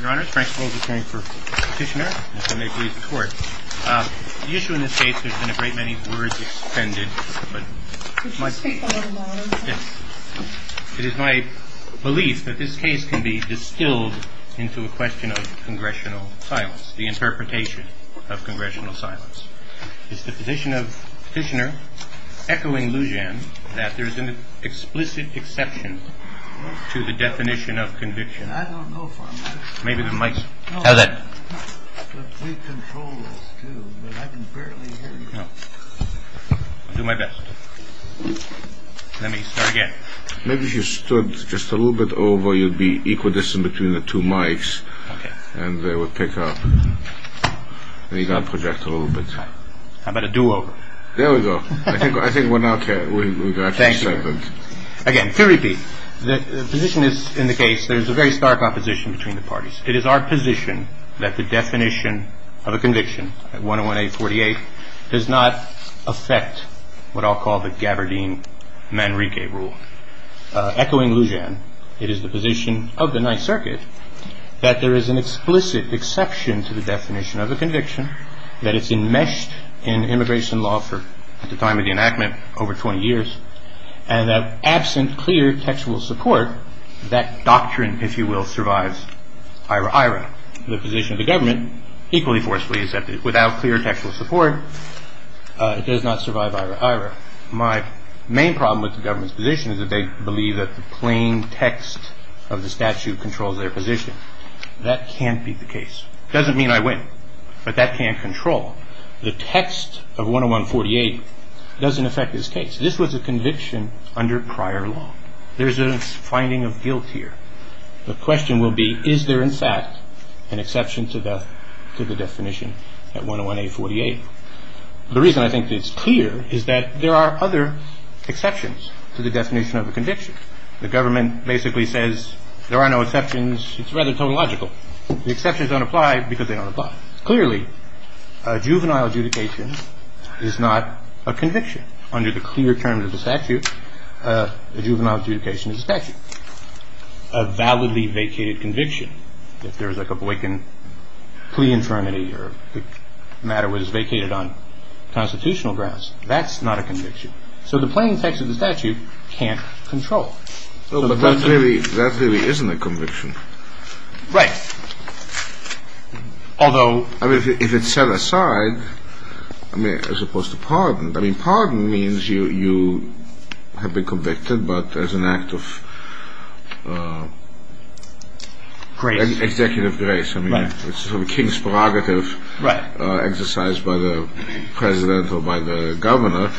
Your Honor, Frank Holder here for Petitioner, and if I may please the Court. The issue in this case has been a great many words expended. Could you speak a little louder? Yes. It is my belief that this case can be distilled into a question of congressional silence, the interpretation of congressional silence. Is the position of Petitioner echoing Lujan that there is an explicit exception to the definition of conviction? I don't know for a fact. Maybe the mics. How's that? We control this, too, but I can barely hear you. I'll do my best. Let me start again. Maybe if you stood just a little bit over, you'd be equidistant between the two mics. Okay. And they would pick up. And you got to project a little bit. How about a do-over? There we go. I think we're now clear. Thank you. Again, to repeat, the position is in the case there is a very stark opposition between the parties. It is our position that the definition of a conviction, 101-848, does not affect what I'll call the Gavardine-Manrique rule. Echoing Lujan, it is the position of the Ninth Circuit that there is an explicit exception to the definition of a conviction, that it's enmeshed in immigration law for, at the time of the enactment, over 20 years, and that absent clear textual support, that doctrine, if you will, survives ira ira. The position of the government, equally forcefully, is that without clear textual support, it does not survive ira ira. My main problem with the government's position is that they believe that the plain text of the statute controls their position. That can't be the case. It doesn't mean I win, but that can't control. The text of 101-48 doesn't affect this case. This was a conviction under prior law. There's a finding of guilt here. The question will be, is there, in fact, an exception to the definition at 101-848? The reason I think it's clear is that there are other exceptions to the definition of a conviction. The government basically says there are no exceptions. It's rather tautological. The exceptions don't apply because they don't apply. Clearly, a juvenile adjudication is not a conviction. Under the clear terms of the statute, a juvenile adjudication is a statute. A validly vacated conviction, if there was like a Boykin plea infirmity or the matter was vacated on constitutional grounds, that's not a conviction. So the plain text of the statute can't control. But that really isn't a conviction. Right. Although... I mean, if it's set aside, I mean, as opposed to pardoned, I mean, pardoned means you have been convicted, but as an act of... Grace. Executive grace. I mean, it's sort of a king's prerogative exercised by the president or by the governor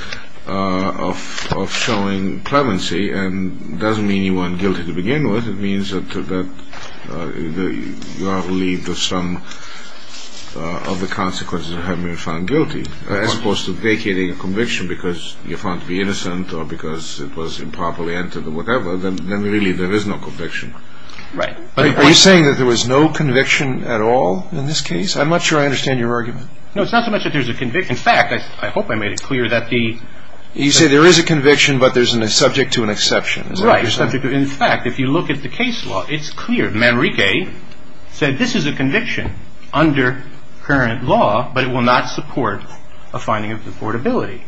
of showing clemency. And it doesn't mean you weren't guilty to begin with. It means that you are relieved of some of the consequences of having been found guilty. As opposed to vacating a conviction because you're found to be innocent or because it was improperly entered or whatever, then really there is no conviction. Right. Are you saying that there was no conviction at all in this case? I'm not sure I understand your argument. No, it's not so much that there's a conviction. In fact, I hope I made it clear that the... You say there is a conviction, but there's a subject to an exception. Right. There's a subject to... In fact, if you look at the case law, it's clear. Manrique said this is a conviction under current law, but it will not support a finding of deportability.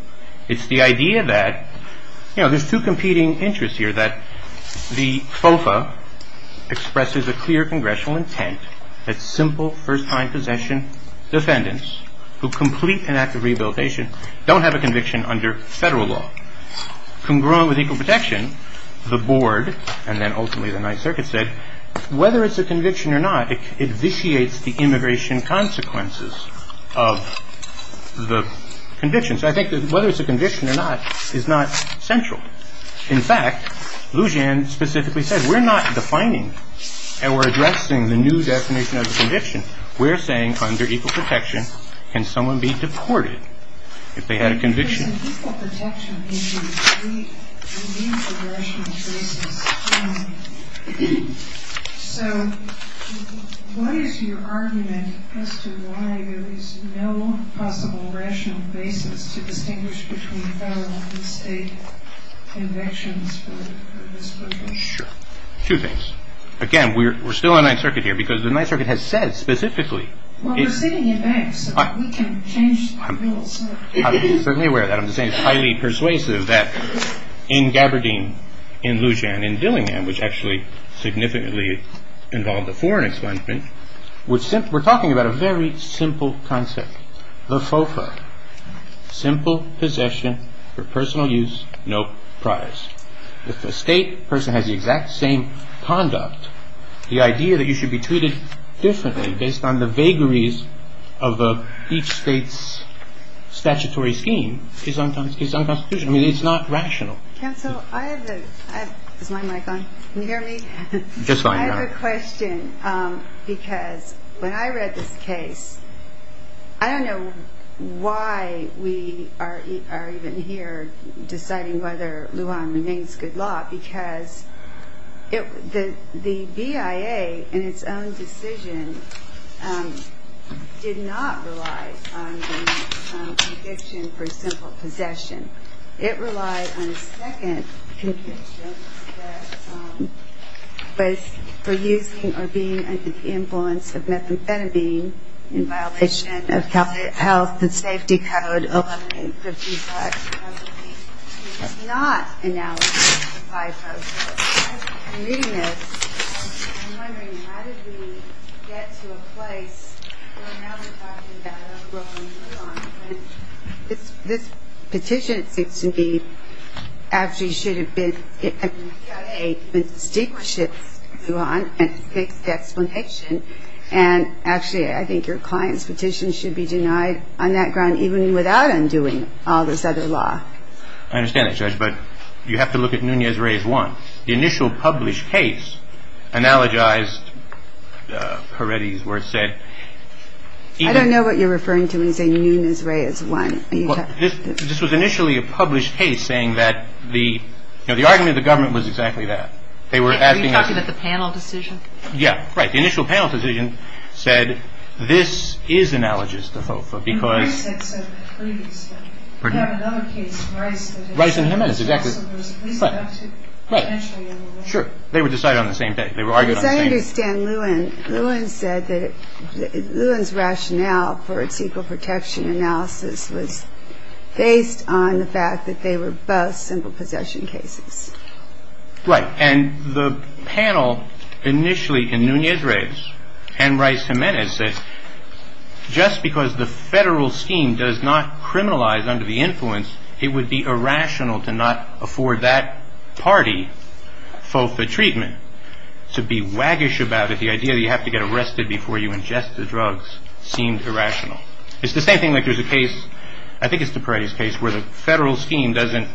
It's the idea that, you know, there's two competing interests here, that the FOFA expresses a clear congressional intent that simple first-time possession defendants who complete an act of rehabilitation don't have a conviction under federal law. Congruent with equal protection, the board and then ultimately the Ninth Circuit said whether it's a conviction or not, it vitiates the immigration consequences of the conviction. So I think that whether it's a conviction or not is not central. In fact, Lujan specifically said we're not defining and we're addressing the new definition of a conviction. We're saying under equal protection, can someone be deported if they had a conviction? It's an equal protection issue. We need a rational basis. So what is your argument as to why there is no possible rational basis to distinguish between federal and state convictions for this conviction? Sure. Two things. Again, we're still in the Ninth Circuit here because the Ninth Circuit has said specifically... We can change the rules. I'm certainly aware of that. I'm just saying it's highly persuasive that in Gaberdeen, in Lujan, in Dillingham, which actually significantly involved a foreign expungement, we're talking about a very simple concept, the FOFA, simple possession for personal use, no prize. If a state person has the exact same conduct, the idea that you should be treated differently based on the vagaries of each state's statutory scheme is unconstitutional. I mean, it's not rational. Counsel, I have a... Is my mic on? Can you hear me? Just fine. I have a question because when I read this case, I don't know why we are even here deciding whether Lujan remains good law because the BIA in its own decision did not rely on the conviction for simple possession. It relied on a second conviction that was for using or being under the influence of methamphetamine in violation of California Health and Safety Code 11855. It did not analyze the FIFO. I'm reading this and I'm wondering how did we get to a place where now we're talking about overruling Lujan? This petition, it seems to me, actually should have been... Lujan and take the explanation and actually I think your client's petition should be denied on that ground even without undoing all this other law. I understand that, Judge, but you have to look at Nunez-Reyes 1. The initial published case analogized Peretti's where it said... I don't know what you're referring to when you say Nunez-Reyes 1. This was initially a published case saying that the argument of the government was exactly that. Are you talking about the panel decision? Yeah, right. The initial panel decision said this is analogous to FOFA because... Reyes had said that previously. We have another case, Reyes and Nunez. Reyes and Nunez, exactly. So there's at least enough to... Right. Sure. They were decided on the same day. As I understand, Lujan said that Lujan's rationale for its equal protection analysis was based on the fact that they were both simple possession cases. Right. And the panel initially in Nunez-Reyes and Reyes-Gimenez said just because the federal scheme does not criminalize under the influence, it would be irrational to not afford that party FOFA treatment. To be waggish about it, the idea that you have to get arrested before you ingest the drugs seemed irrational. It's the same thing like there's a case, I think it's the Peretti's case, where the federal scheme doesn't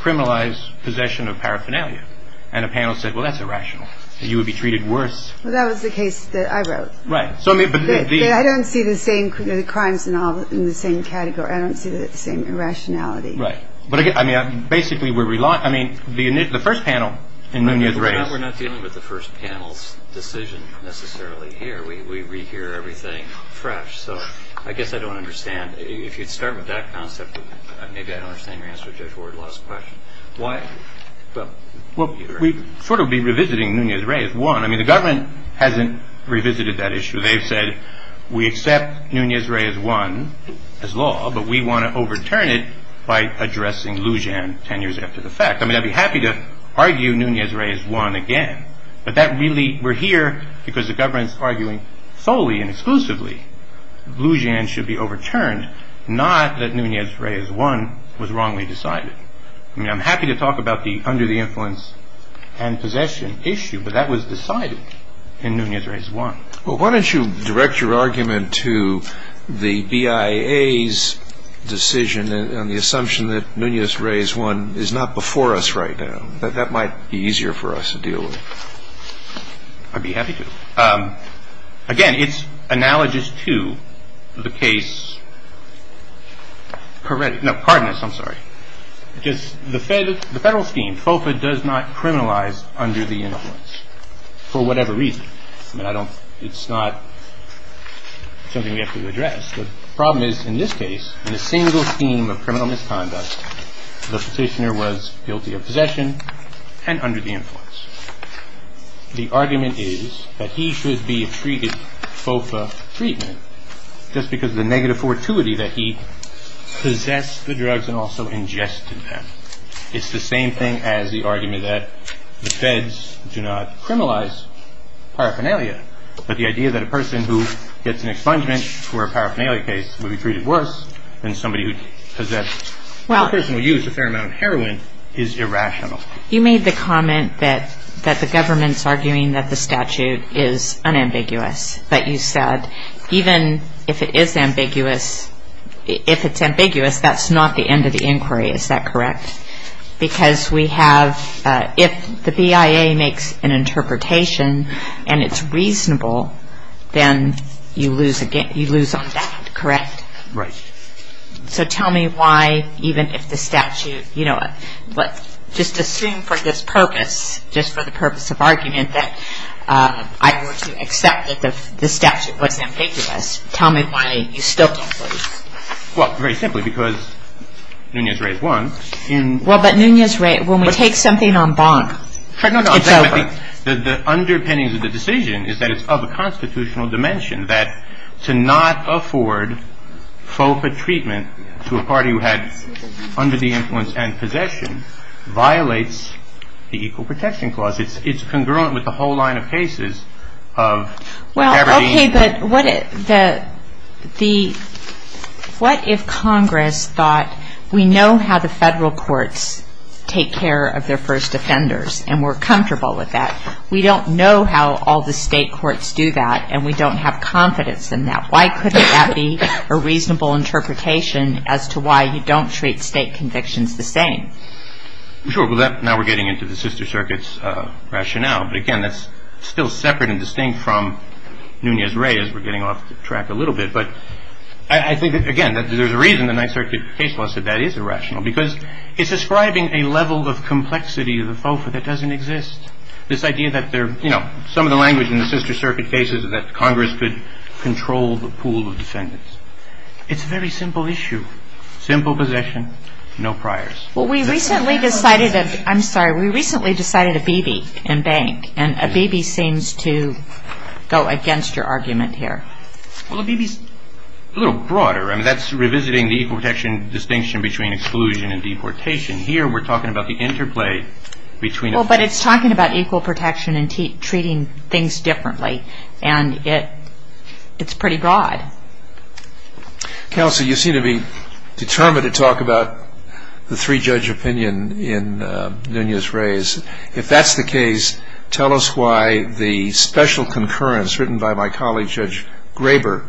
criminalize possession of paraphernalia. And a panel said, well, that's irrational. You would be treated worse. Well, that was the case that I wrote. Right. I don't see the crimes in the same category. I don't see the same irrationality. Right. But again, basically, the first panel in Nunez-Reyes... We're not dealing with the first panel's decision necessarily here. We hear everything fresh. So I guess I don't understand. If you'd start with that concept, maybe I don't understand your answer to Judge Wardlaw's question. Why? Well, we'd sort of be revisiting Nunez-Reyes 1. I mean, the government hasn't revisited that issue. They've said we accept Nunez-Reyes 1 as law, but we want to overturn it by addressing Lujan 10 years after the fact. I mean, I'd be happy to argue Nunez-Reyes 1 again, but we're here because the government's arguing solely and exclusively Lujan should be overturned, not that Nunez-Reyes 1 was wrongly decided. I mean, I'm happy to talk about the under the influence and possession issue, but that was decided in Nunez-Reyes 1. Well, why don't you direct your argument to the BIA's decision on the assumption that Nunez-Reyes 1 is not before us right now, that that might be easier for us to deal with? I'd be happy to. Again, it's analogous to the case, no, Cardenas, I'm sorry. The federal scheme, FOFA does not criminalize under the influence for whatever reason. I mean, it's not something we have to address. The problem is, in this case, in a single scheme of criminal misconduct, the petitioner was guilty of possession and under the influence. The argument is that he should be treated FOFA treatment just because of the negative fortuity that he possessed the drugs and also ingested them. It's the same thing as the argument that the feds do not criminalize paraphernalia, but the idea that a person who gets an expungement for a paraphernalia case would be treated worse than somebody who possessed or a person who used a fair amount of heroin is irrational. You made the comment that the government's arguing that the statute is unambiguous, but you said even if it is ambiguous, if it's ambiguous, that's not the end of the inquiry, is that correct? Because we have, if the BIA makes an interpretation and it's reasonable, then you lose on that, correct? Right. So tell me why, even if the statute, just assume for this purpose, just for the purpose of argument that I were to accept that the statute was ambiguous, tell me why you still don't believe. Well, very simply because Nunez-Reyes won. Well, but Nunez-Reyes, when we take something on bond, it's over. The underpinnings of the decision is that it's of a constitutional dimension that to not afford FOCA treatment to a party who had under the influence and possession violates the Equal Protection Clause. It's congruent with the whole line of cases of Aberdeen. Okay, but what if Congress thought we know how the federal courts take care of their first offenders and we're comfortable with that. We don't know how all the state courts do that and we don't have confidence in that. Why couldn't that be a reasonable interpretation as to why you don't treat state convictions the same? Sure. Well, now we're getting into the sister circuits rationale. But again, that's still separate and distinct from Nunez-Reyes. We're getting off track a little bit. But I think, again, that there's a reason the Ninth Circuit case law said that is irrational because it's describing a level of complexity of the FOFA that doesn't exist. This idea that there are, you know, some of the language in the sister circuit cases is that Congress could control the pool of defendants. It's a very simple issue, simple possession, no priors. Well, we recently decided that, I'm sorry, we recently decided Abebe and Bank. And Abebe seems to go against your argument here. Well, Abebe is a little broader. I mean, that's revisiting the equal protection distinction between exclusion and deportation. Here we're talking about the interplay between. Well, but it's talking about equal protection and treating things differently. And it's pretty broad. Counsel, you seem to be determined to talk about the three-judge opinion in Nunez-Reyes. If that's the case, tell us why the special concurrence written by my colleague Judge Graber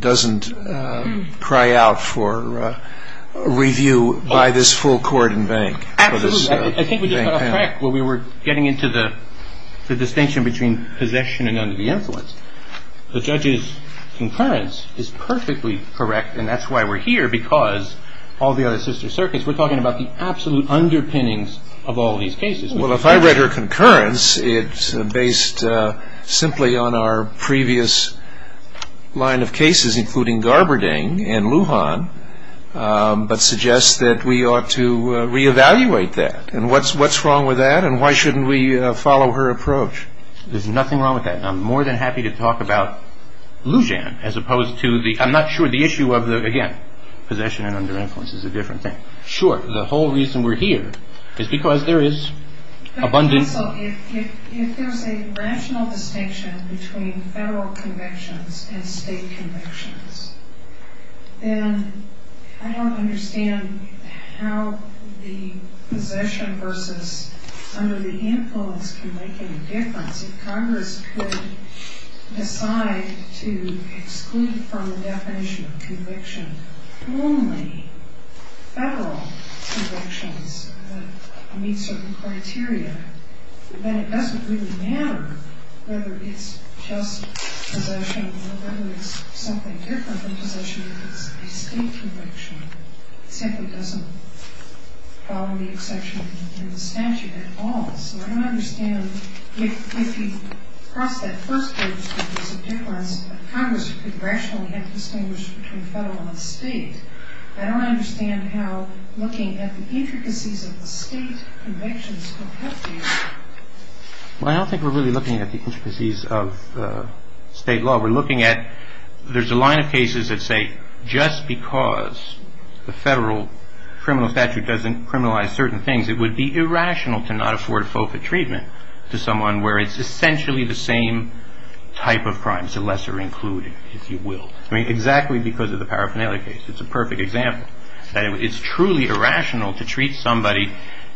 doesn't cry out for review by this full court and bank. Absolutely. I think we just got off track when we were getting into the distinction between possession and under the influence. The judge's concurrence is perfectly correct. And that's why we're here, because all the other sister circuits, we're talking about the absolute underpinnings of all these cases. Well, if I read her concurrence, it's based simply on our previous line of cases, including Garberding and Lujan, but suggests that we ought to reevaluate that. And what's wrong with that? And why shouldn't we follow her approach? There's nothing wrong with that. I'm more than happy to talk about Lujan, as opposed to the, I'm not sure, the issue of the, again, possession and under influence is a different thing. Sure, the whole reason we're here is because there is abundance. Counsel, if there's a rational distinction between federal convictions and state convictions, then I don't understand how the possession versus under the influence can make any difference. If Congress could decide to exclude from the definition of conviction only federal convictions that meet certain criteria, then it doesn't really matter whether it's just possession or whether it's something different from possession. If it's a state conviction, it simply doesn't follow the exception in the statute at all. So I don't understand if you cross that first bridge that there's a difference, Congress could rationally have distinguished between federal and state. I don't understand how looking at the intricacies of the state convictions could help you. Well, I don't think we're really looking at the intricacies of state law. We're looking at there's a line of cases that say just because the federal criminal statute doesn't criminalize certain things, it would be irrational to not afford FOFA treatment to someone where it's essentially the same type of crime. It's a lesser included, if you will. I mean, exactly because of the paraphernalia case. It's a perfect example. It's truly irrational to treat somebody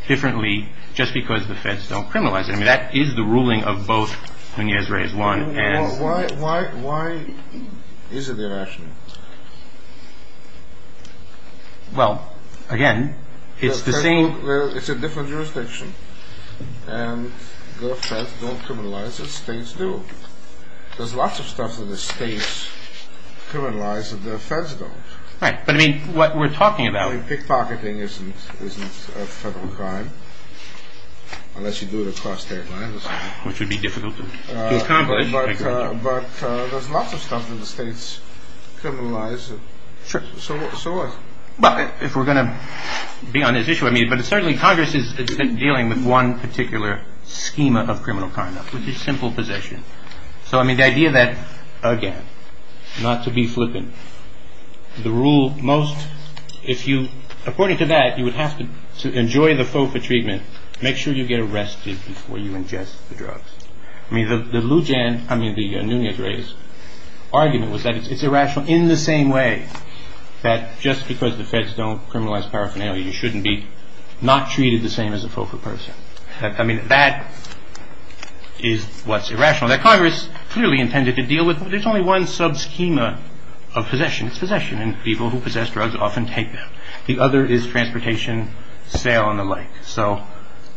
differently just because the feds don't criminalize it. I mean, that is the ruling of both when he has raised one. Why is it irrational? Well, again, it's the same. It's a different jurisdiction. And the feds don't criminalize it, states do. There's lots of stuff that the states criminalize that the feds don't. Right, but I mean, what we're talking about. I mean, pickpocketing isn't a federal crime unless you do it across state lines. Which would be difficult to accomplish. But there's lots of stuff that the states criminalize. Sure. So what? Well, if we're going to be on this issue, I mean, but certainly Congress is dealing with one particular schema of criminal conduct, which is simple possession. So, I mean, the idea that, again, not to be flippant. The rule most, if you, according to that, you would have to enjoy the FOFA treatment. Make sure you get arrested before you ingest the drugs. I mean, the Lujan, I mean, the Nunez race argument was that it's irrational in the same way that just because the feds don't criminalize paraphernalia, you shouldn't be not treated the same as a FOFA person. I mean, that is what's irrational. That Congress clearly intended to deal with. There's only one sub-schema of possession. It's possession, and people who possess drugs often take them. The other is transportation, sale, and the like. So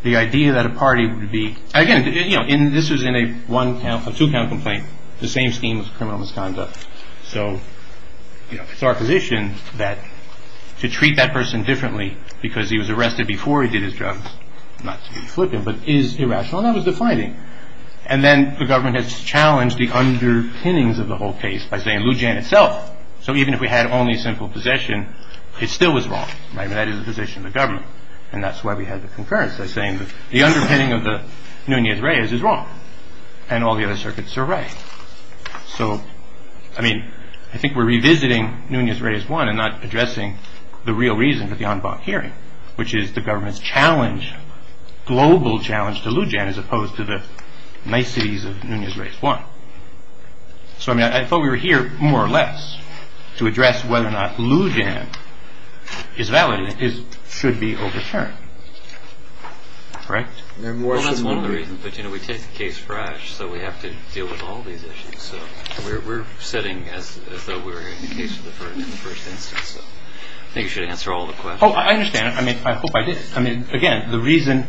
the idea that a party would be, again, you know, this was in a one count, a two count complaint. The same scheme of criminal misconduct. So, you know, it's our position that to treat that person differently because he was arrested before he did his drugs, not to be flippant, but is irrational, and that was the finding. And then the government has challenged the underpinnings of the whole case by saying Lujan itself. So even if we had only simple possession, it still was wrong. I mean, that is the position of the government, and that's why we had the concurrence by saying that the underpinning of the Nunez-Reyes is wrong, and all the other circuits are right. So, I mean, I think we're revisiting Nunez-Reyes 1 and not addressing the real reason for the en banc hearing, which is the government's challenge, global challenge, to Lujan as opposed to the niceties of Nunez-Reyes 1. So, I mean, I thought we were here more or less to address whether or not Lujan is valid and should be overturned, correct? Well, that's one of the reasons, but, you know, we take the case fresh, so we have to deal with all these issues. So we're setting as though we're in the case of the first instance, so I think you should answer all the questions. Oh, I understand. I mean, I hope I did. I mean, again, the reason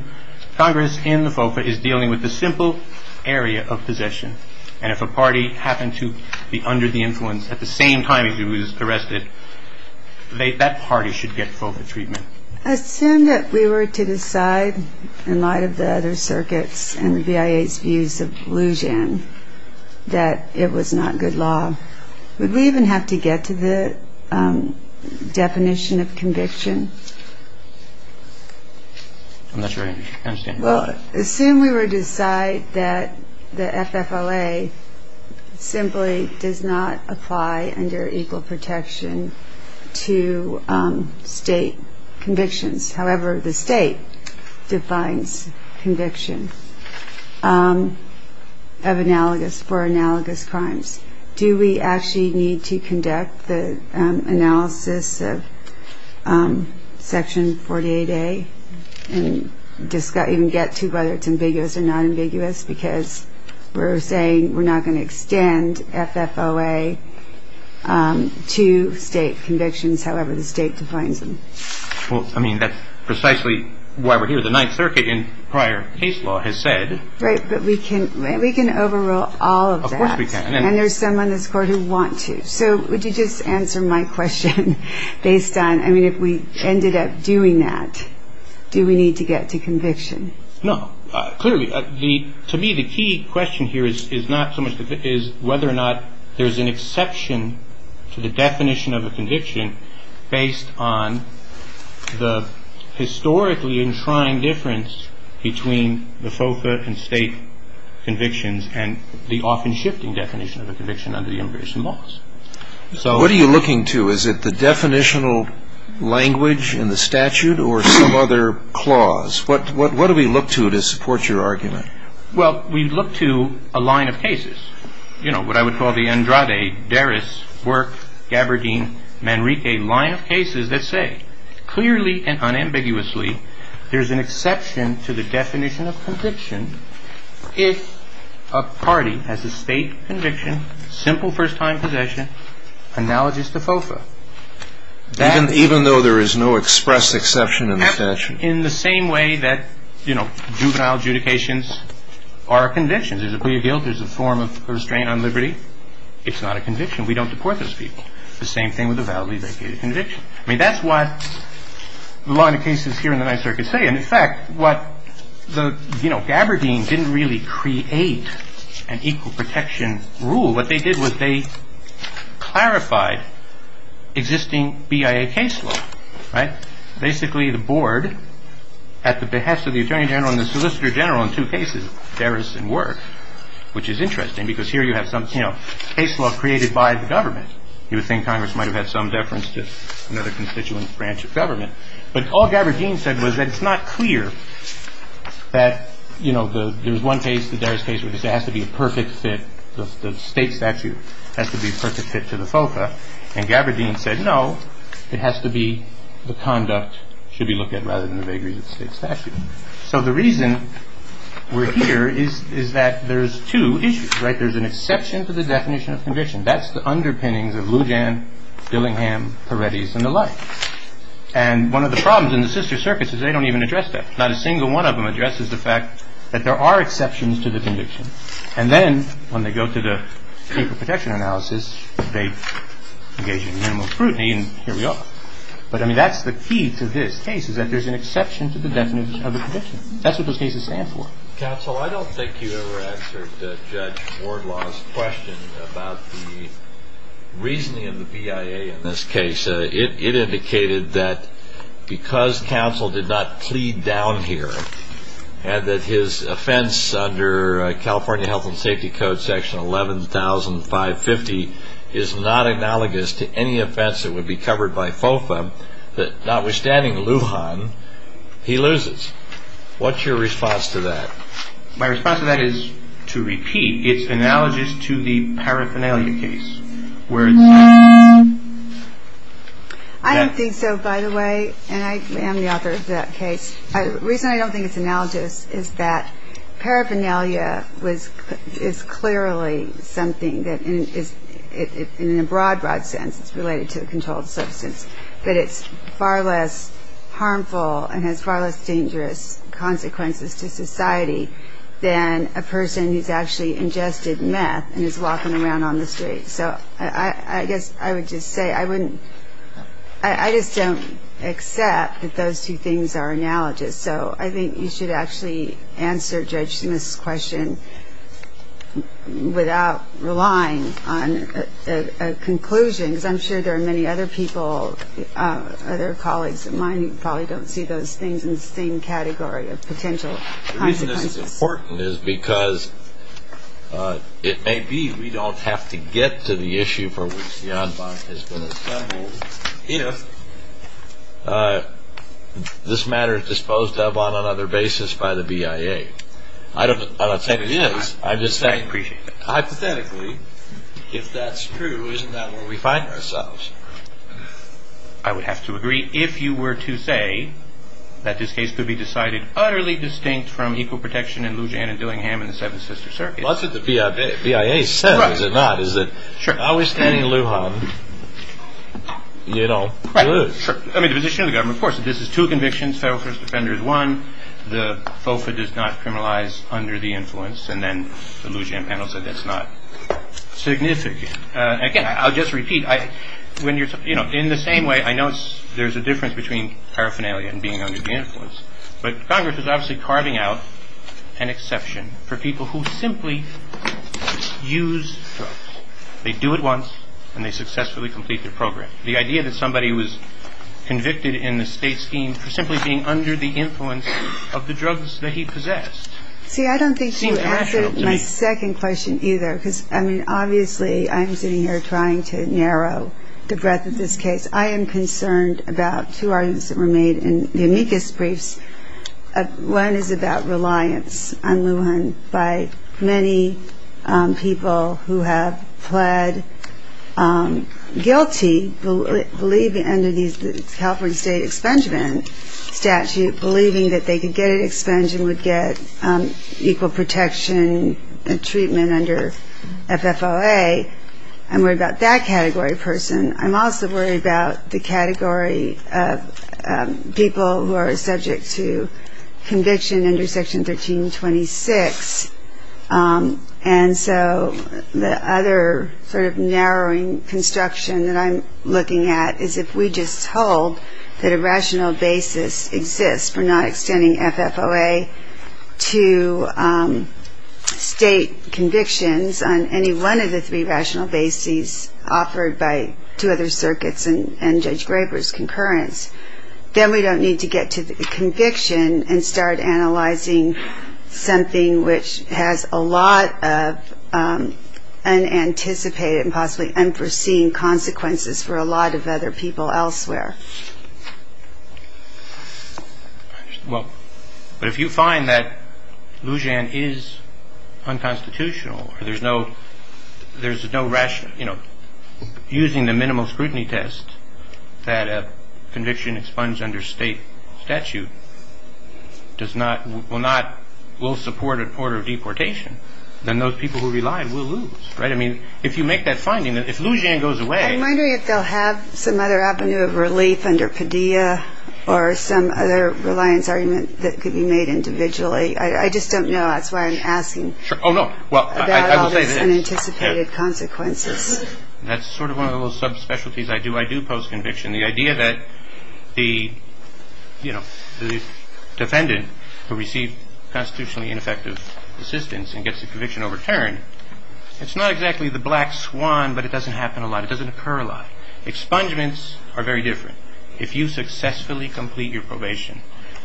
Congress in the FOFA is dealing with the simple area of possession, and if a party happened to be under the influence at the same time as he was arrested, that party should get FOFA treatment. Assume that we were to decide in light of the other circuits and the BIA's views of Lujan that it was not good law. Would we even have to get to the definition of conviction? I'm not sure I understand. Well, assume we were to decide that the FFLA simply does not apply under equal protection to state convictions. However, the state defines conviction for analogous crimes. Do we actually need to conduct the analysis of Section 48A and even get to whether it's ambiguous or not ambiguous? Because we're saying we're not going to extend FFLA to state convictions, however the state defines them. Well, I mean, that's precisely why we're here. The Ninth Circuit in prior case law has said. Right, but we can overrule all of that. Of course we can. And there's some on this Court who want to. So would you just answer my question based on, I mean, if we ended up doing that, do we need to get to conviction? No. Clearly, to me the key question here is not so much whether or not there's an exception to the definition of a conviction based on the historically enshrined difference between the FOFA and state convictions and the often shifting definition of a conviction under the immigration laws. What are you looking to? Is it the definitional language in the statute or some other clause? What do we look to to support your argument? Well, we look to a line of cases. You know, what I would call the Andrade, Deris, Work, Gaberdeen, Manrique line of cases that say, clearly and unambiguously, there's an exception to the definition of conviction if a party has a state conviction, simple first-time possession, analogous to FOFA. Even though there is no expressed exception in the statute? In the same way that, you know, juvenile adjudications are convictions. There's a plea of guilt. There's a form of restraint on liberty. It's not a conviction. We don't deport those people. The same thing with a validly vacated conviction. I mean, that's what the line of cases here in the Ninth Circuit say. And, in fact, what the, you know, Gaberdeen didn't really create an equal protection rule. What they did was they clarified existing BIA case law, right? Which is interesting because here you have some, you know, case law created by the government. You would think Congress might have had some deference to another constituent branch of government. But all Gaberdeen said was that it's not clear that, you know, there was one case, the Deris case, where they said it has to be a perfect fit. The state statute has to be a perfect fit to the FOFA. And Gaberdeen said, no, it has to be the conduct should be looked at rather than the vagaries of the state statute. So the reason we're here is that there's two issues, right? There's an exception to the definition of conviction. That's the underpinnings of Lujan, Dillingham, Peretti's and the like. And one of the problems in the sister circuits is they don't even address that. Not a single one of them addresses the fact that there are exceptions to the conviction. And then when they go to the equal protection analysis, they engage in minimal scrutiny. And here we are. But, I mean, that's the key to this case is that there's an exception to the definition of the conviction. That's what those cases stand for. Counsel, I don't think you ever answered Judge Wardlaw's question about the reasoning of the BIA in this case. It indicated that because counsel did not plead down here and that his offense under California Health and Safety Code Section 11,550 is not analogous to any offense that would be covered by FOFA, that notwithstanding Lujan, he loses. What's your response to that? My response to that is, to repeat, it's analogous to the paraphernalia case where it's. I don't think so, by the way. And I am the author of that case. The reason I don't think it's analogous is that paraphernalia is clearly something that is, in a broad, broad sense, it's related to a controlled substance, but it's far less harmful and has far less dangerous consequences to society than a person who's actually ingested meth and is walking around on the street. So I guess I would just say I wouldn't, I just don't accept that those two things are analogous. So I think you should actually answer Judge Smith's question without relying on a conclusion, because I'm sure there are many other people, other colleagues of mine, who probably don't see those things in the same category of potential consequences. The reason this is important is because it may be we don't have to get to the issue for which Janvon has been assembled if this matter is disposed of on another basis by the BIA. I don't think it is. I'm just saying hypothetically, if that's true, isn't that where we find ourselves? I would have to agree, if you were to say that this case could be decided utterly distinct from equal protection in Lujan and Dillingham in the Seventh Sister Circuit. Well, that's what the BIA said, is it not? Sure. Are we standing aloof on, you know, clues? Right, sure. I mean, the position of the government, of course, if this is two convictions, federal first offender is one, the FOFA does not criminalize under the influence, and then the Lujan panel said that's not significant. Again, I'll just repeat, when you're, you know, in the same way, I know there's a difference between paraphernalia and being under the influence, but Congress is obviously carving out an exception for people who simply use drugs. They do it once and they successfully complete their program. The idea that somebody was convicted in the state scheme for simply being under the influence of the drugs that he possessed. See, I don't think you answered my second question either, because, I mean, obviously I'm sitting here trying to narrow the breadth of this case. I am concerned about two arguments that were made in the amicus briefs. One is about reliance on Lujan by many people who have pled guilty, believe under these California state expungement statute, believing that they could get an expungement and would get equal protection and treatment under FFOA. I'm worried about that category of person. I'm also worried about the category of people who are subject to conviction under Section 1326. And so the other sort of narrowing construction that I'm looking at is if we just hold that a rational basis exists for not extending FFOA to state convictions on any one of the three rational bases offered by two other circuits and Judge Graber's concurrence, then we don't need to get to the conviction and start analyzing something which has a lot of unanticipated and possibly unforeseen consequences for a lot of other people elsewhere. Well, but if you find that Lujan is unconstitutional, there's no rational, you know, using the minimal scrutiny test that a conviction expunged under state statute will support a court of deportation, then those people who rely will lose, right? I mean, if you make that finding, if Lujan goes away. I'm wondering if they'll have some other avenue of relief under Padilla or some other reliance argument that could be made individually. I just don't know. That's why I'm asking. Oh, no. Well, I will say this. About all this unanticipated consequences. That's sort of one of the little subspecialties I do. I do post-conviction. The idea that the, you know, the defendant who received constitutionally ineffective assistance and gets a conviction overturned, it's not exactly the black swan, but it doesn't happen a lot. It doesn't occur a lot. Expungements are very different. If you successfully complete your probation,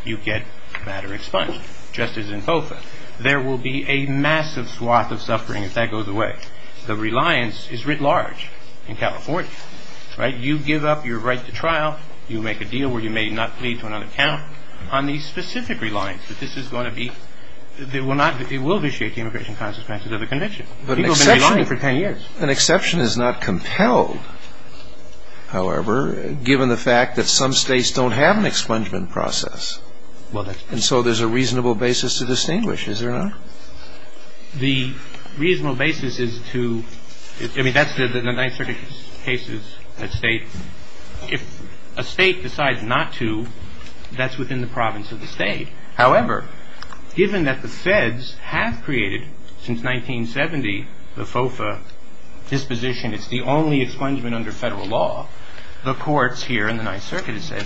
you get matter expunged, just as in FOFA. There will be a massive swath of suffering if that goes away. The reliance is writ large in California, right? You give up your right to trial. You make a deal where you may not plead to another count on the specific reliance. But this is going to be, it will not, it will initiate the immigration consequences of the conviction. People have been relying for 10 years. An exception is not compelled, however, given the fact that some states don't have an expungement process. And so there's a reasonable basis to distinguish, is there not? The reasonable basis is to, I mean, that's the Ninth Circuit case is a state. If a state decides not to, that's within the province of the state. However, given that the feds have created since 1970 the FOFA disposition, it's the only expungement under Federal law, the courts here in the Ninth Circuit have said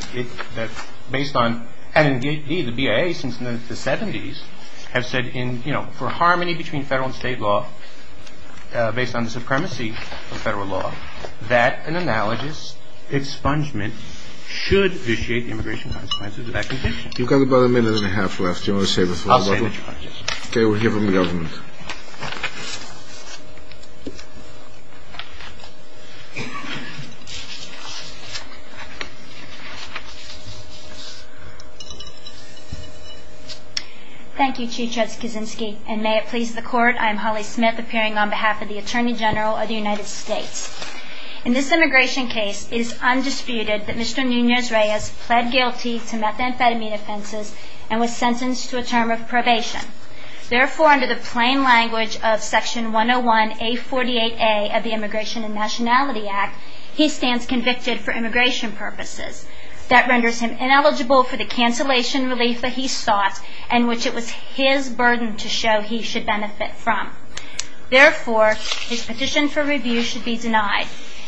that based on, and indeed the BIA since the 70s, have said in, you know, for harmony between Federal and state law, based on the supremacy of Federal law, that an analogous expungement should initiate the immigration consequences of that conviction. You've got about a minute and a half left. Do you want to save it for later? I'll save it for later. Okay, we'll hear from the government. Thank you, Chief Judge Kaczynski, and may it please the Court, I'm Holly Smith appearing on behalf of the Attorney General of the United States. In this immigration case, it is undisputed that Mr. Nunez-Reyes pled guilty to methamphetamine offenses and was sentenced to a term of probation. Therefore, under the plain language of Section 101A48A of the Immigration and Nationality Act, he stands convicted for immigration purposes. That renders him ineligible for the cancellation relief that he sought and which it was his burden to show he should benefit from. Therefore, his petition for review should be denied.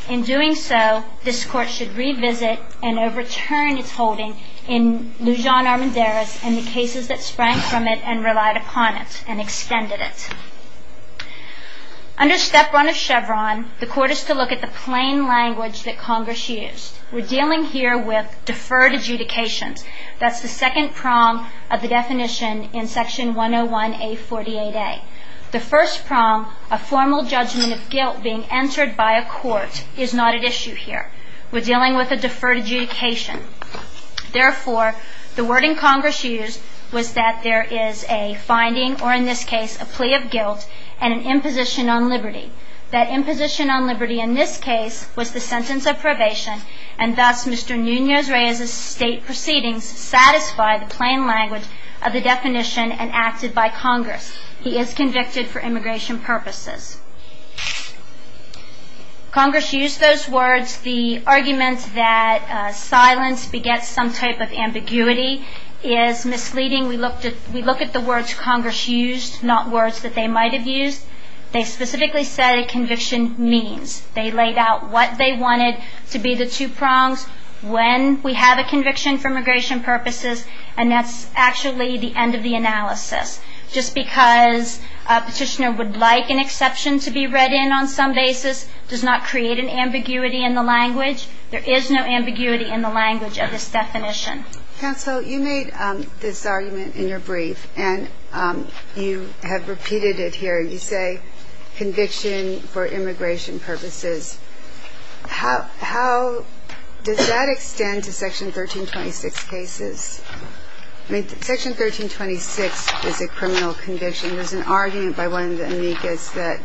In doing so, this Court should revisit and overturn its holding in Lujan Armendariz and the cases that sprang from it and relied upon it and extended it. Under Step 1 of Chevron, the Court is to look at the plain language that Congress used. We're dealing here with deferred adjudications. That's the second prong of the definition in Section 101A48A. The first prong, a formal judgment of guilt being entered by a court, is not at issue here. We're dealing with a deferred adjudication. Therefore, the word in Congress used was that there is a finding, or in this case a plea of guilt, and an imposition on liberty. That imposition on liberty in this case was the sentence of probation, and thus Mr. Nunez-Reyes' state proceedings satisfy the plain language of the definition and acted by Congress. He is convicted for immigration purposes. Congress used those words. The argument that silence begets some type of ambiguity is misleading. We look at the words Congress used, not words that they might have used. They specifically said a conviction means. They laid out what they wanted to be the two prongs, when we have a conviction for immigration purposes, and that's actually the end of the analysis. Just because a petitioner would like an exception to be read in on some basis does not create an ambiguity in the language. There is no ambiguity in the language of this definition. Counsel, you made this argument in your brief, and you have repeated it here. You say conviction for immigration purposes. How does that extend to Section 1326 cases? Section 1326 is a criminal conviction. There's an argument by one of the amicus that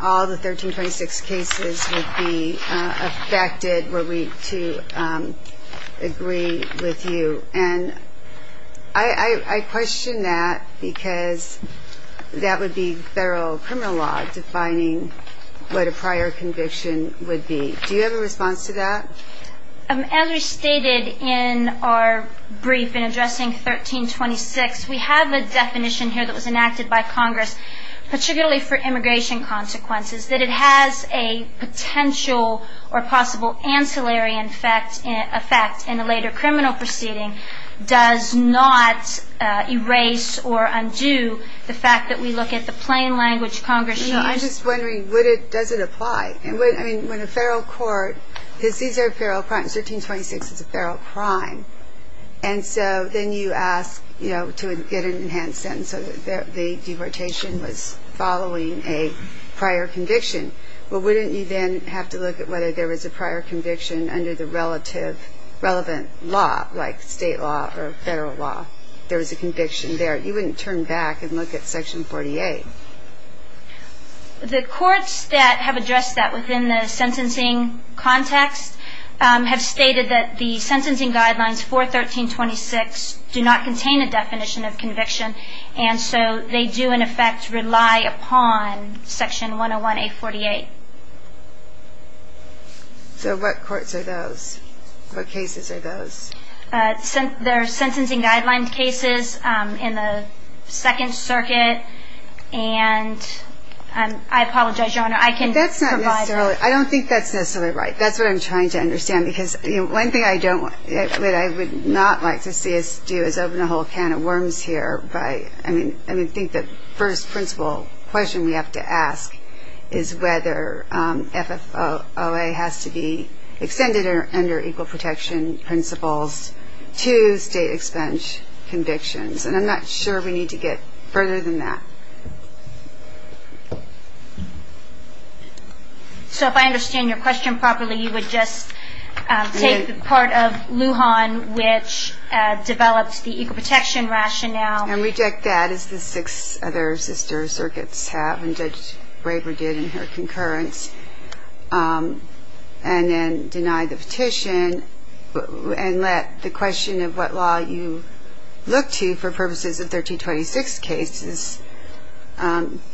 all the 1326 cases would be affected were we to agree with you. And I question that because that would be federal criminal law defining what a prior conviction would be. Do you have a response to that? As we stated in our brief in addressing 1326, we have a definition here that was enacted by Congress, particularly for immigration consequences, that it has a potential or possible ancillary effect in a later criminal proceeding, does not erase or undo the fact that we look at the plain language Congress used. I'm just wondering, does it apply? I mean, when a federal court sees a federal crime, 1326 is a federal crime, and so then you ask to get an enhanced sentence so that the deportation was following a prior conviction. Well, wouldn't you then have to look at whether there was a prior conviction under the relevant law, like state law or federal law, there was a conviction there? You wouldn't turn back and look at Section 48. The courts that have addressed that within the sentencing context have stated that the sentencing guidelines for 1326 do not contain a definition of conviction, and so they do, in effect, rely upon Section 101A48. So what courts are those? What cases are those? There are sentencing guideline cases in the Second Circuit, and I apologize, Your Honor, I can provide more. I don't think that's necessarily right. That's what I'm trying to understand because one thing I would not like to see us do is open a whole can of worms here. I think the first principle question we have to ask is whether FFOA has to be extended under equal protection principles to state expense convictions, and I'm not sure we need to get further than that. So if I understand your question properly, you would just take part of Lujan, which develops the equal protection rationale. And reject that, as the six other sister circuits have, and Judge Braver did in her concurrence, and then deny the petition and let the question of what law you look to for purposes of 1326 cases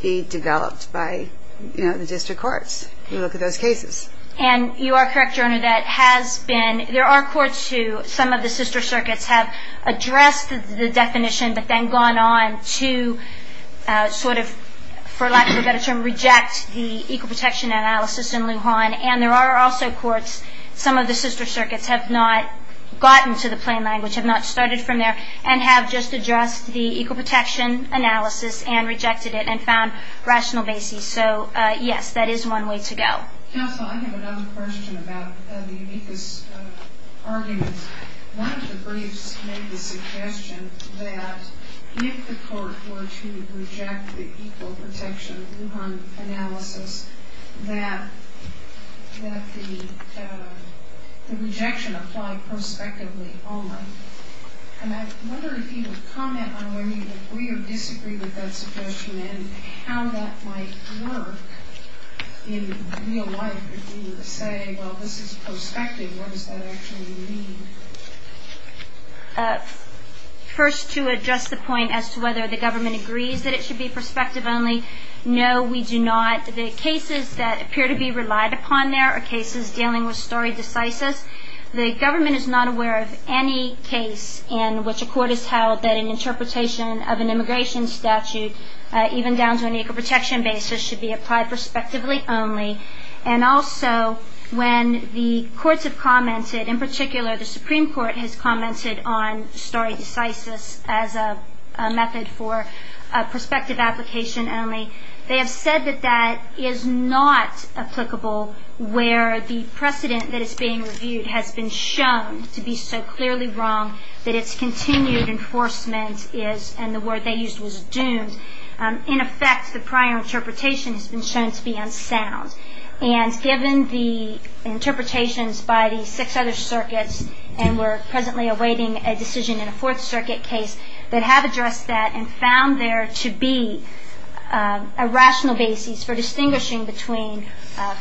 be developed by, you know, the district courts who look at those cases. And you are correct, Your Honor, that has been – there are courts who, some of the sister circuits, have addressed the definition but then gone on to sort of, for lack of a better term, reject the equal protection analysis in Lujan. And there are also courts, some of the sister circuits have not gotten to the plain language, have not started from there, and have just addressed the equal protection analysis and rejected it and found rational basis. So, yes, that is one way to go. Counsel, I have another question about the amicus argument. One of the briefs made the suggestion that if the court were to reject the equal protection Lujan analysis, that the rejection applied prospectively only. And I wonder if you would comment on whether you agree or disagree with that suggestion and how that might work in real life, if you were to say, well, this is prospective, what does that actually mean? First, to address the point as to whether the government agrees that it should be prospective only, no, we do not. The cases that appear to be relied upon there are cases dealing with stare decisis. The government is not aware of any case in which a court has held that an interpretation of an immigration statute, even down to an equal protection basis, should be applied prospectively only. And also, when the courts have commented, in particular the Supreme Court has commented on stare decisis as a method for prospective application only, they have said that that is not applicable where the precedent that is being reviewed has been shown to be so clearly wrong that its continued enforcement is, and the word they used was doomed. In effect, the prior interpretation has been shown to be unsound. And given the interpretations by the six other circuits, and we're presently awaiting a decision in a fourth circuit case that have addressed that and found there to be a rational basis for distinguishing between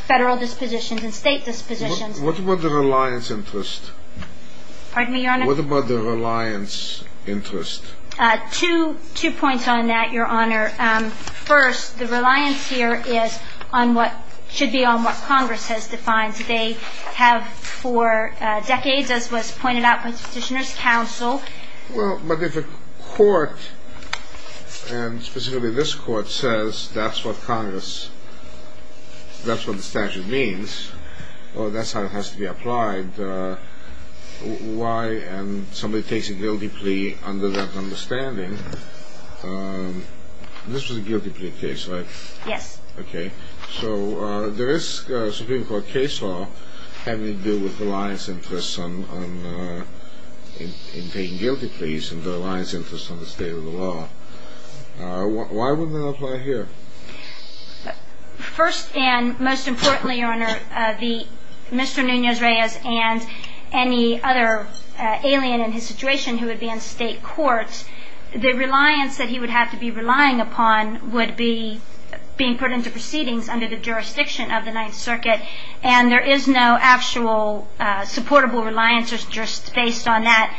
federal dispositions and state dispositions. What about the reliance interest? Pardon me, Your Honor? What about the reliance interest? Two points on that, Your Honor. First, the reliance here is on what should be on what Congress has defined. They have for decades, as was pointed out by the Petitioner's Counsel. Well, but if a court, and specifically this court, says that's what Congress, that's what the statute means, well, that's how it has to be applied. Why? And somebody takes a guilty plea under that understanding. This was a guilty plea case, right? Yes. Okay. So there is Supreme Court case law having to do with reliance interest in taking guilty pleas and the reliance interest on the state of the law. Why wouldn't that apply here? First and most importantly, Your Honor, Mr. Nunez-Reyes and any other alien in his situation who would be in state court, the reliance that he would have to be relying upon would be being put into proceedings under the jurisdiction of the Ninth Circuit. And there is no actual supportable reliance interest based on that,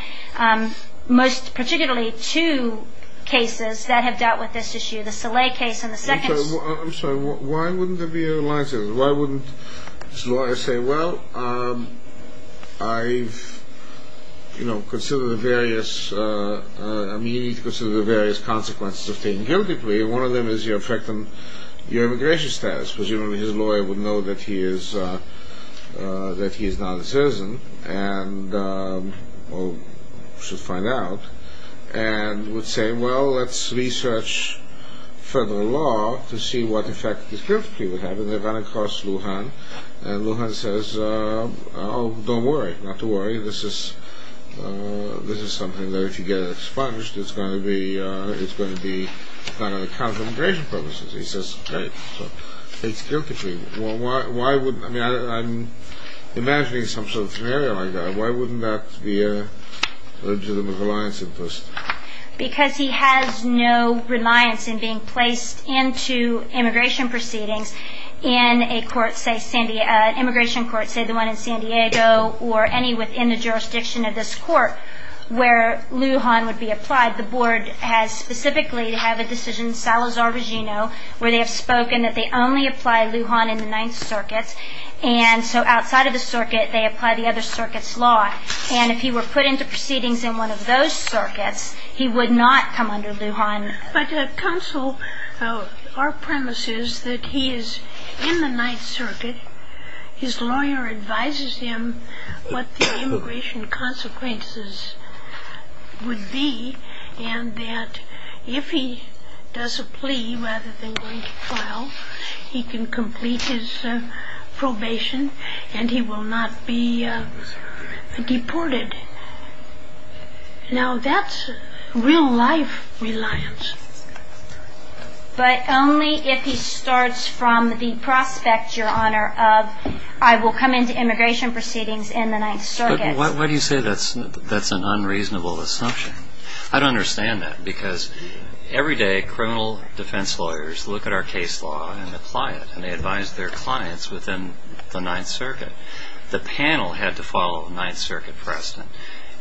most particularly two cases that have dealt with this issue, the Saleh case and the second case. I'm sorry. Why wouldn't there be a reliance interest? Why wouldn't this lawyer say, well, I've, you know, considered the various, I mean, you need to consider the various consequences of taking a guilty plea, and one of them is your effect on your immigration status. Presumably his lawyer would know that he is not a citizen and, well, should find out, and would say, well, let's research further law to see what effect this guilty plea would have. And they run across Lujan, and Lujan says, oh, don't worry. Not to worry. This is something that if you get it expunged, it's going to be kind of a counter to immigration purposes. He says, great. So it's a guilty plea. Why would, I mean, I'm imagining some sort of scenario like that. Why wouldn't that be a legitimate reliance interest? Because he has no reliance in being placed into immigration proceedings in a court, say, an immigration court, say the one in San Diego or any within the jurisdiction of this court, where Lujan would be applied. The board has specifically had a decision, Salazar-Regino, where they have spoken that they only apply Lujan in the Ninth Circuit, and so outside of the circuit they apply the other circuit's law. And if he were put into proceedings in one of those circuits, he would not come under Lujan. But, Counsel, our premise is that he is in the Ninth Circuit. His lawyer advises him what the immigration consequences would be, and that if he does a plea rather than going to trial, he can complete his probation and he will not be deported. Now that's real-life reliance. But only if he starts from the prospect, Your Honor, of I will come into immigration proceedings in the Ninth Circuit. But why do you say that's an unreasonable assumption? I don't understand that, because every day criminal defense lawyers look at our case law and apply it, and they advise their clients within the Ninth Circuit. The panel had to follow the Ninth Circuit precedent.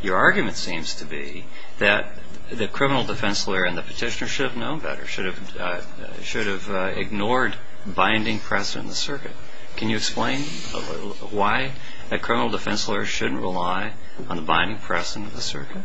Your argument seems to be that the criminal defense lawyer and the petitioner should have known better, should have ignored binding precedent in the circuit. Can you explain why a criminal defense lawyer shouldn't rely on the binding precedent of the circuit?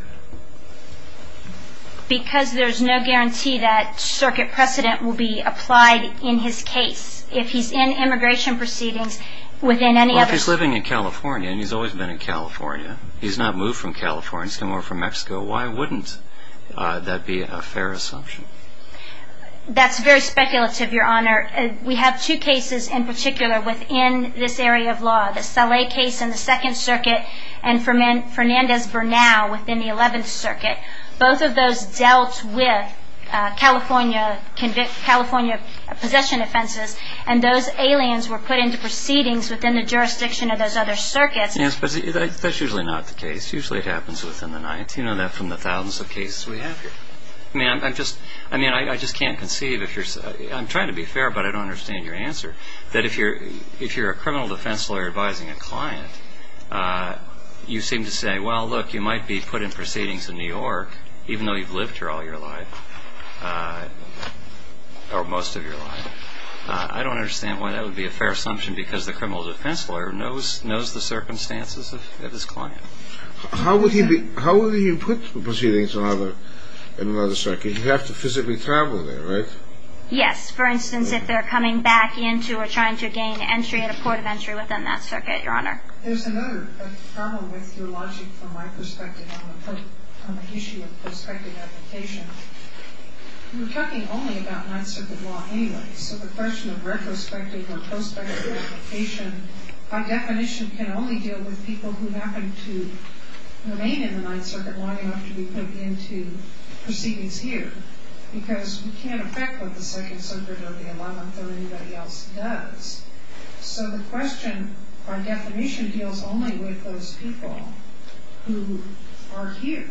Because there's no guarantee that circuit precedent will be applied in his case. If he's in immigration proceedings within any other... Well, if he's living in California, and he's always been in California, he's not moved from California, he's come over from Mexico, why wouldn't that be a fair assumption? That's very speculative, Your Honor. We have two cases in particular within this area of law, the Saleh case in the Second Circuit and Fernandez-Bernal within the Eleventh Circuit. Both of those dealt with California possession offenses, and those aliens were put into proceedings within the jurisdiction of those other circuits. Yes, but that's usually not the case. Usually it happens within the Ninth. You know that from the thousands of cases we have here. I mean, I just can't conceive if you're... I'm trying to be fair, but I don't understand your answer, that if you're a criminal defense lawyer advising a client, you seem to say, well, look, you might be put in proceedings in New York, even though you've lived here all your life, or most of your life. I don't understand why that would be a fair assumption, because the criminal defense lawyer knows the circumstances of his client. How would you put proceedings in another circuit? You'd have to physically travel there, right? Yes, for instance, if they're coming back into or trying to gain entry at a port of entry within that circuit, Your Honor. There's another problem with your logic from my perspective on the issue of prospective application. We're talking only about Ninth Circuit law anyway, so the question of retrospective or prospective application, by definition, can only deal with people who happen to remain in the Ninth Circuit long enough to be put into proceedings here, because we can't affect what the Second Circuit or the Eleventh or anybody else does. So the question, by definition, deals only with those people who are here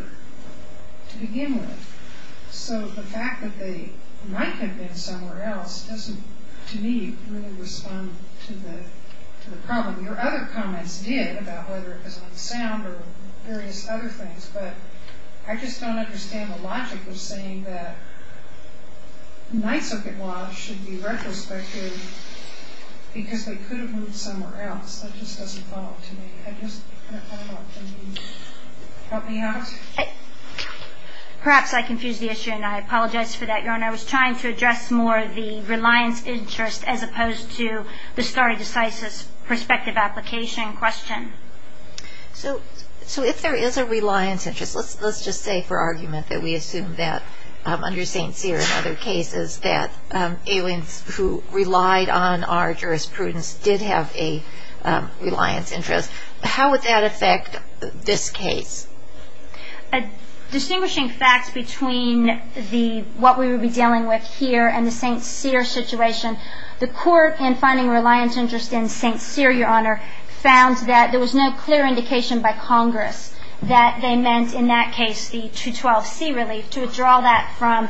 to begin with. So the fact that they might have been somewhere else doesn't, to me, really respond to the problem. Your other comments did about whether it was on sound or various other things, but I just don't understand the logic of saying that Ninth Circuit laws should be retrospective because they could have moved somewhere else. That just doesn't follow up to me. I just don't know. Can you help me out? Perhaps I confused the issue, and I apologize for that, Your Honor. I was trying to address more the reliance interest as opposed to the stare decisis, prospective application question. So if there is a reliance interest, let's just say for argument that we assume that under St. Cyr and other cases that aliens who relied on our jurisprudence did have a reliance interest. How would that affect this case? Distinguishing facts between what we would be dealing with here and the St. Cyr situation, the court in finding reliance interest in St. Cyr, Your Honor, found that there was no clear indication by Congress that they meant in that case the 212C relief, to withdraw that from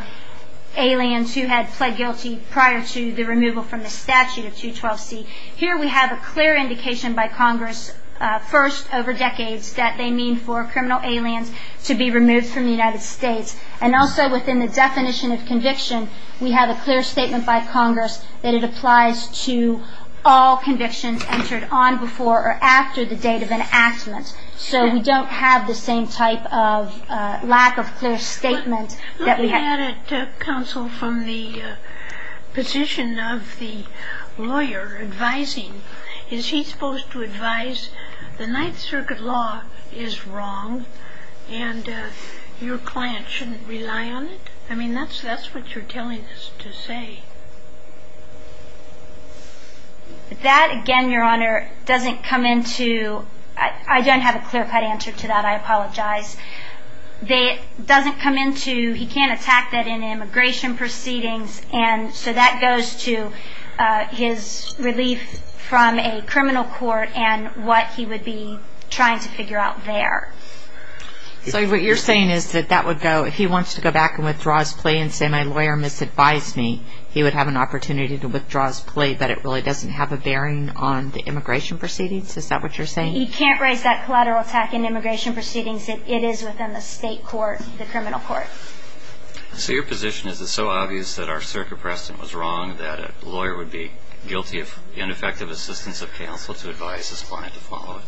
aliens who had pled guilty prior to the removal from the statute of 212C. Here we have a clear indication by Congress, first over decades, that they mean for criminal aliens to be removed from the United States. And also within the definition of conviction, we have a clear statement by Congress that it applies to all convictions entered on before or after the date of enactment. So we don't have the same type of lack of clear statement that we have. Look at it, counsel, from the position of the lawyer advising. Is he supposed to advise the Ninth Circuit law is wrong and your client shouldn't rely on it? I mean, that's what you're telling us to say. That, again, Your Honor, doesn't come into – I don't have a clear-cut answer to that. I apologize. It doesn't come into – he can't attack that in immigration proceedings, and so that goes to his relief from a criminal court and what he would be trying to figure out there. So what you're saying is that that would go – if he wants to go back and withdraw his plea and say, my lawyer misadvised me, he would have an opportunity to withdraw his plea, but it really doesn't have a bearing on the immigration proceedings? Is that what you're saying? He can't raise that collateral attack in immigration proceedings. It is within the state court, the criminal court. So your position is it's so obvious that our circuit precedent was wrong that a lawyer would be guilty of ineffective assistance of counsel to advise his client to follow it?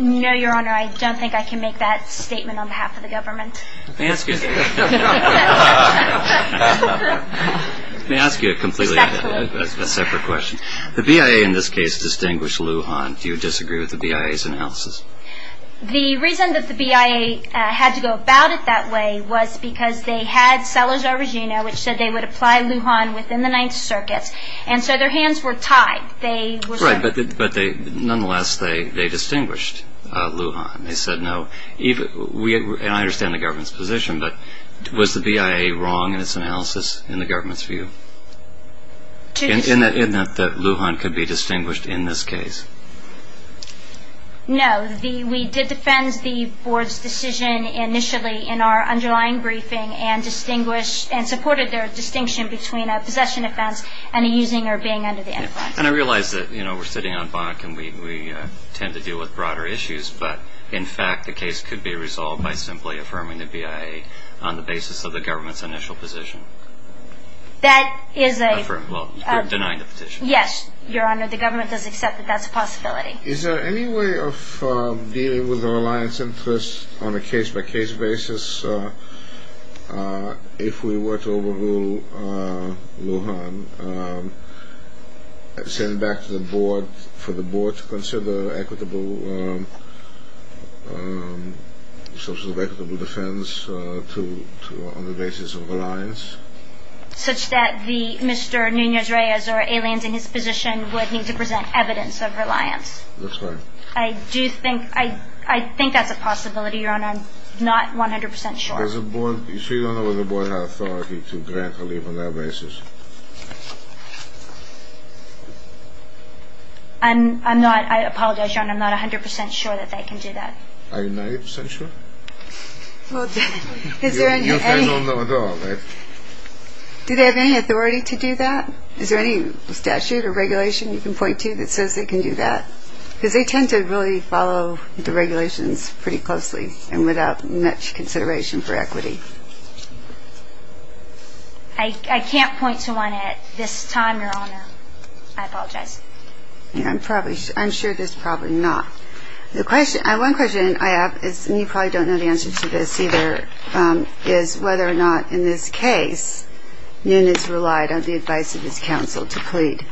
No, Your Honor. I don't think I can make that statement on behalf of the government. May I ask you – May I ask you a completely separate question? The BIA, in this case, distinguished Lou Hahn. Do you disagree with the BIA's analysis? The reason that the BIA had to go about it that way was because they had Salazar-Regina, which said they would apply Lou Hahn within the Ninth Circuit, and so their hands were tied. Right, but nonetheless, they distinguished Lou Hahn. They said no. And I understand the government's position, but was the BIA wrong in its analysis in the government's view? In that Lou Hahn could be distinguished in this case? No. We did defend the board's decision initially in our underlying briefing and distinguished – and supported their distinction between a possession offense and a using or being under the influence. And I realize that, you know, we're sitting on bonk, and we tend to deal with broader issues, but in fact the case could be resolved by simply affirming the BIA on the basis of the government's initial position. That is a – Well, denying the petition. Yes, Your Honor. The government does accept that that's a possibility. Is there any way of dealing with the reliance interest on a case-by-case basis if we were to overrule Lou Hahn, send back to the board for the board to consider equitable – sorts of equitable defense to – on the basis of reliance? Such that the – Mr. Nunez-Reyes or aliens in his position would need to present evidence of reliance. That's right. I do think – I think that's a possibility, Your Honor. I'm not 100 percent sure. Does the board – so you don't know whether the board has authority to grant relief on that basis? I'm not – I apologize, Your Honor. I'm not 100 percent sure that they can do that. Are you 90 percent sure? Well, is there any – You say no, no at all, right? Do they have any authority to do that? Is there any statute or regulation you can point to that says they can do that? Because they tend to really follow the regulations pretty closely and without much consideration for equity. I can't point to one at this time, Your Honor. I apologize. I'm probably – I'm sure there's probably not. The question – one question I have is – and you probably don't know the answer to this either – is whether or not, in this case, Nunez relied on the advice of his counsel to plead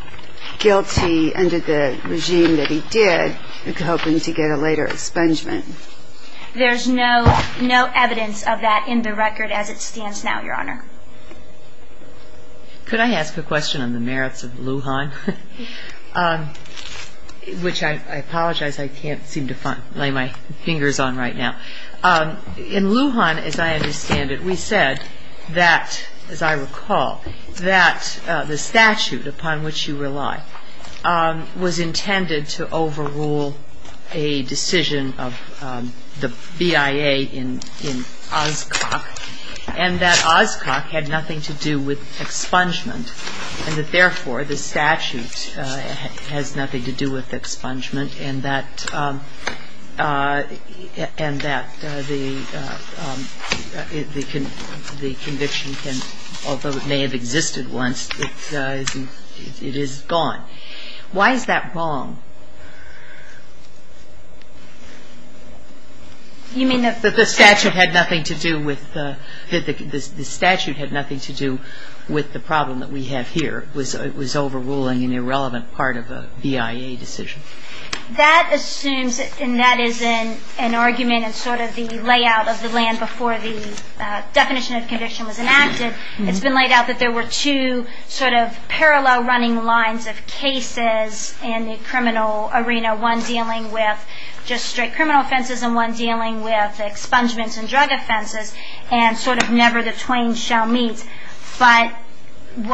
guilty under the regime that he did, hoping to get a later expungement. There's no evidence of that in the record as it stands now, Your Honor. Could I ask a question on the merits of Lujan? Which I apologize, I can't seem to lay my fingers on right now. In Lujan, as I understand it, we said that, as I recall, that the statute upon which you rely was intended to overrule a decision of the BIA in Oscok, and that Oscok had nothing to do with expungement, and that, therefore, the statute has nothing to do with expungement, and that the conviction can – although it may have existed once, it is gone. Why is that wrong? But the statute had nothing to do with the problem that we have here. It was overruling an irrelevant part of a BIA decision. That assumes – and that is an argument in sort of the layout of the land before the definition of conviction was enacted. It's been laid out that there were two sort of parallel running lines of cases in the criminal arena, one dealing with just straight criminal offenses and one dealing with expungements and drug offenses, and sort of never the twain shall meet. But the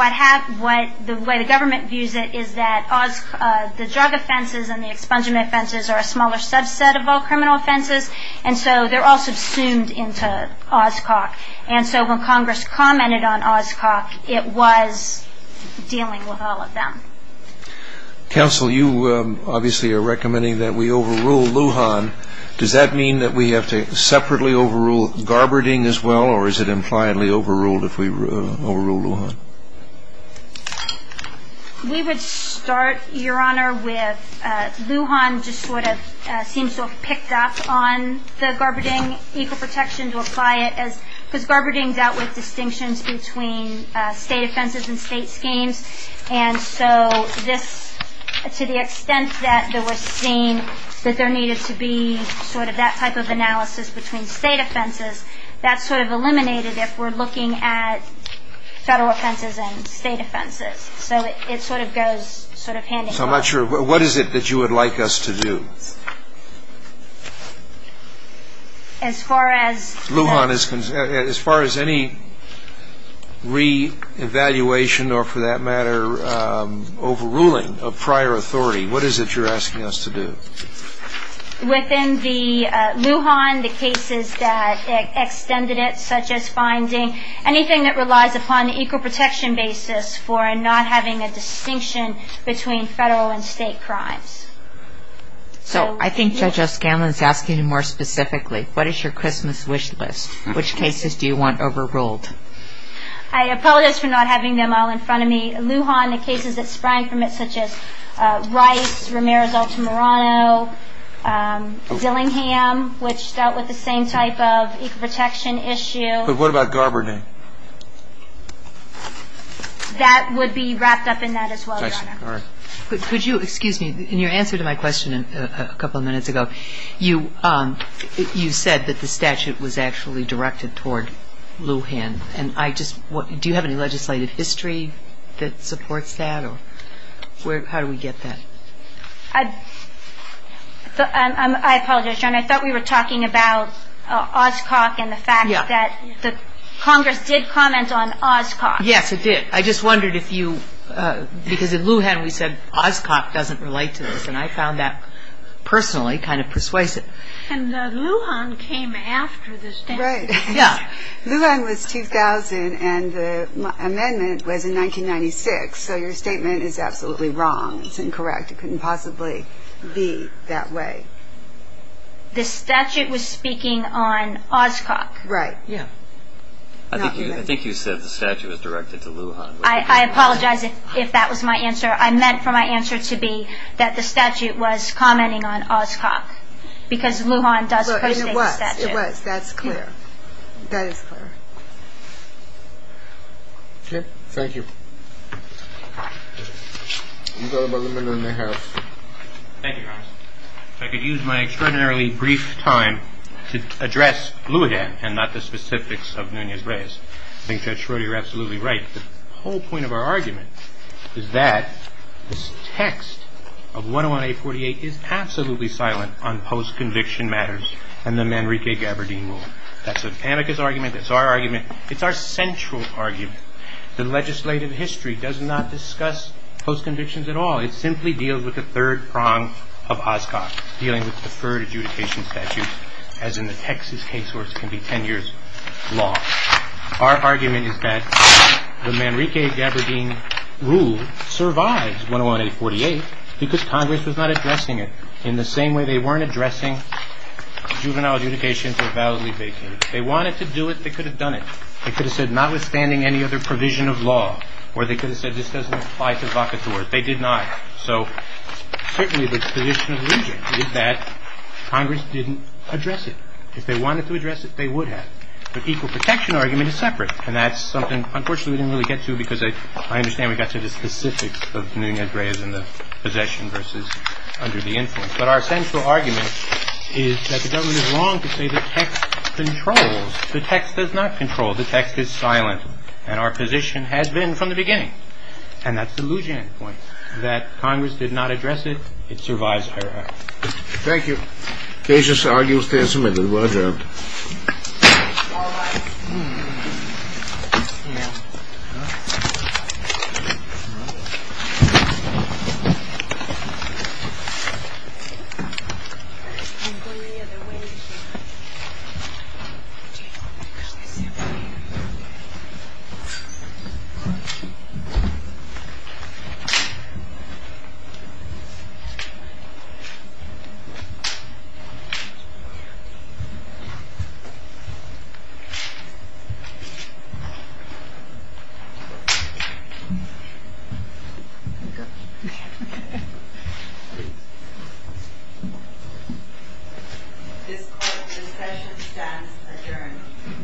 way the government views it is that the drug offenses and the expungement offenses are a smaller subset of all criminal offenses, and so they're all subsumed into Oscok. And so when Congress commented on Oscok, it was dealing with all of them. Counsel, you obviously are recommending that we overrule Lujan. Does that mean that we have to separately overrule Garberding as well, or is it impliedly overruled if we overrule Lujan? We would start, Your Honor, with Lujan just sort of seems to have picked up on the Garberding equal protection to apply it as – because Garberding dealt with distinctions between state offenses and state schemes, and so this – to the extent that there was seen that there needed to be sort of that type of analysis between state offenses, that's sort of eliminated if we're looking at federal offenses and state offenses. So it sort of goes sort of hand-in-hand. So I'm not sure – what is it that you would like us to do? As far as – Lujan is – as far as any reevaluation or, for that matter, overruling of prior authority, what is it you're asking us to do? Within the Lujan, the cases that extended it, such as finding anything that relies upon the equal protection basis for not having a distinction between federal and state crimes. So I think Judge O'Scanlan is asking you more specifically. What is your Christmas wish list? Which cases do you want overruled? I apologize for not having them all in front of me. Lujan, the cases that sprang from it, such as Rice, Ramirez-Altamirano, Dillingham, which dealt with the same type of equal protection issue. But what about Garberding? That would be wrapped up in that as well, Your Honor. Could you – excuse me. In your answer to my question a couple of minutes ago, you said that the statute was actually directed toward Lujan. And I just – do you have any legislative history that supports that? Or where – how do we get that? I apologize, Your Honor. I thought we were talking about Oscok and the fact that the Congress did comment on Oscok. Yes, it did. I just wondered if you – because in Lujan we said Oscok doesn't relate to this. And I found that personally kind of persuasive. And Lujan came after the statute. Right. Yeah. Lujan was 2000 and the amendment was in 1996. So your statement is absolutely wrong. It's incorrect. It couldn't possibly be that way. The statute was speaking on Oscok. Right. Yeah. I think you said the statute was directed to Lujan. I apologize if that was my answer. I meant for my answer to be that the statute was commenting on Oscok because Lujan does persuade the statute. It was. That's clear. That is clear. Okay. Thank you. You've got about a minute and a half. Thank you, Your Honor. If I could use my extraordinarily brief time to address Lujan and not the specifics of Nunez-Reyes. I think Judge Schroeder, you're absolutely right. The whole point of our argument is that this text of 101-848 is absolutely silent on post-conviction matters and the Manrique-Gabardin rule. That's an amicus argument. That's our argument. It's our central argument. The legislative history does not discuss post-convictions at all. It simply deals with the third prong of Oscok, dealing with deferred adjudication statutes, as in the Texas case where it can be 10 years long. Our argument is that the Manrique-Gabardin rule survives 101-848 because Congress was not addressing it in the same way they weren't addressing juvenile adjudication for validly vacated. They wanted to do it. They could have done it. They could have said notwithstanding any other provision of law, or they could have said this doesn't apply to vacatores. They did not. So certainly the position of Loujain is that Congress didn't address it. If they wanted to address it, they would have. The equal protection argument is separate, and that's something, unfortunately, we didn't really get to because I understand we got to the specifics of Newt and Ed Reyes and the possession versus under the influence. But our central argument is that the government is wrong to say the text controls. The text does not control. And our position has been from the beginning. And that's the Loujain point, that Congress did not address it. It survives 101-848. Thank you. Case is argued and submitted. Roger. This court's discussion stands adjourned. Thank you. Thank you. Thank you. Thank you.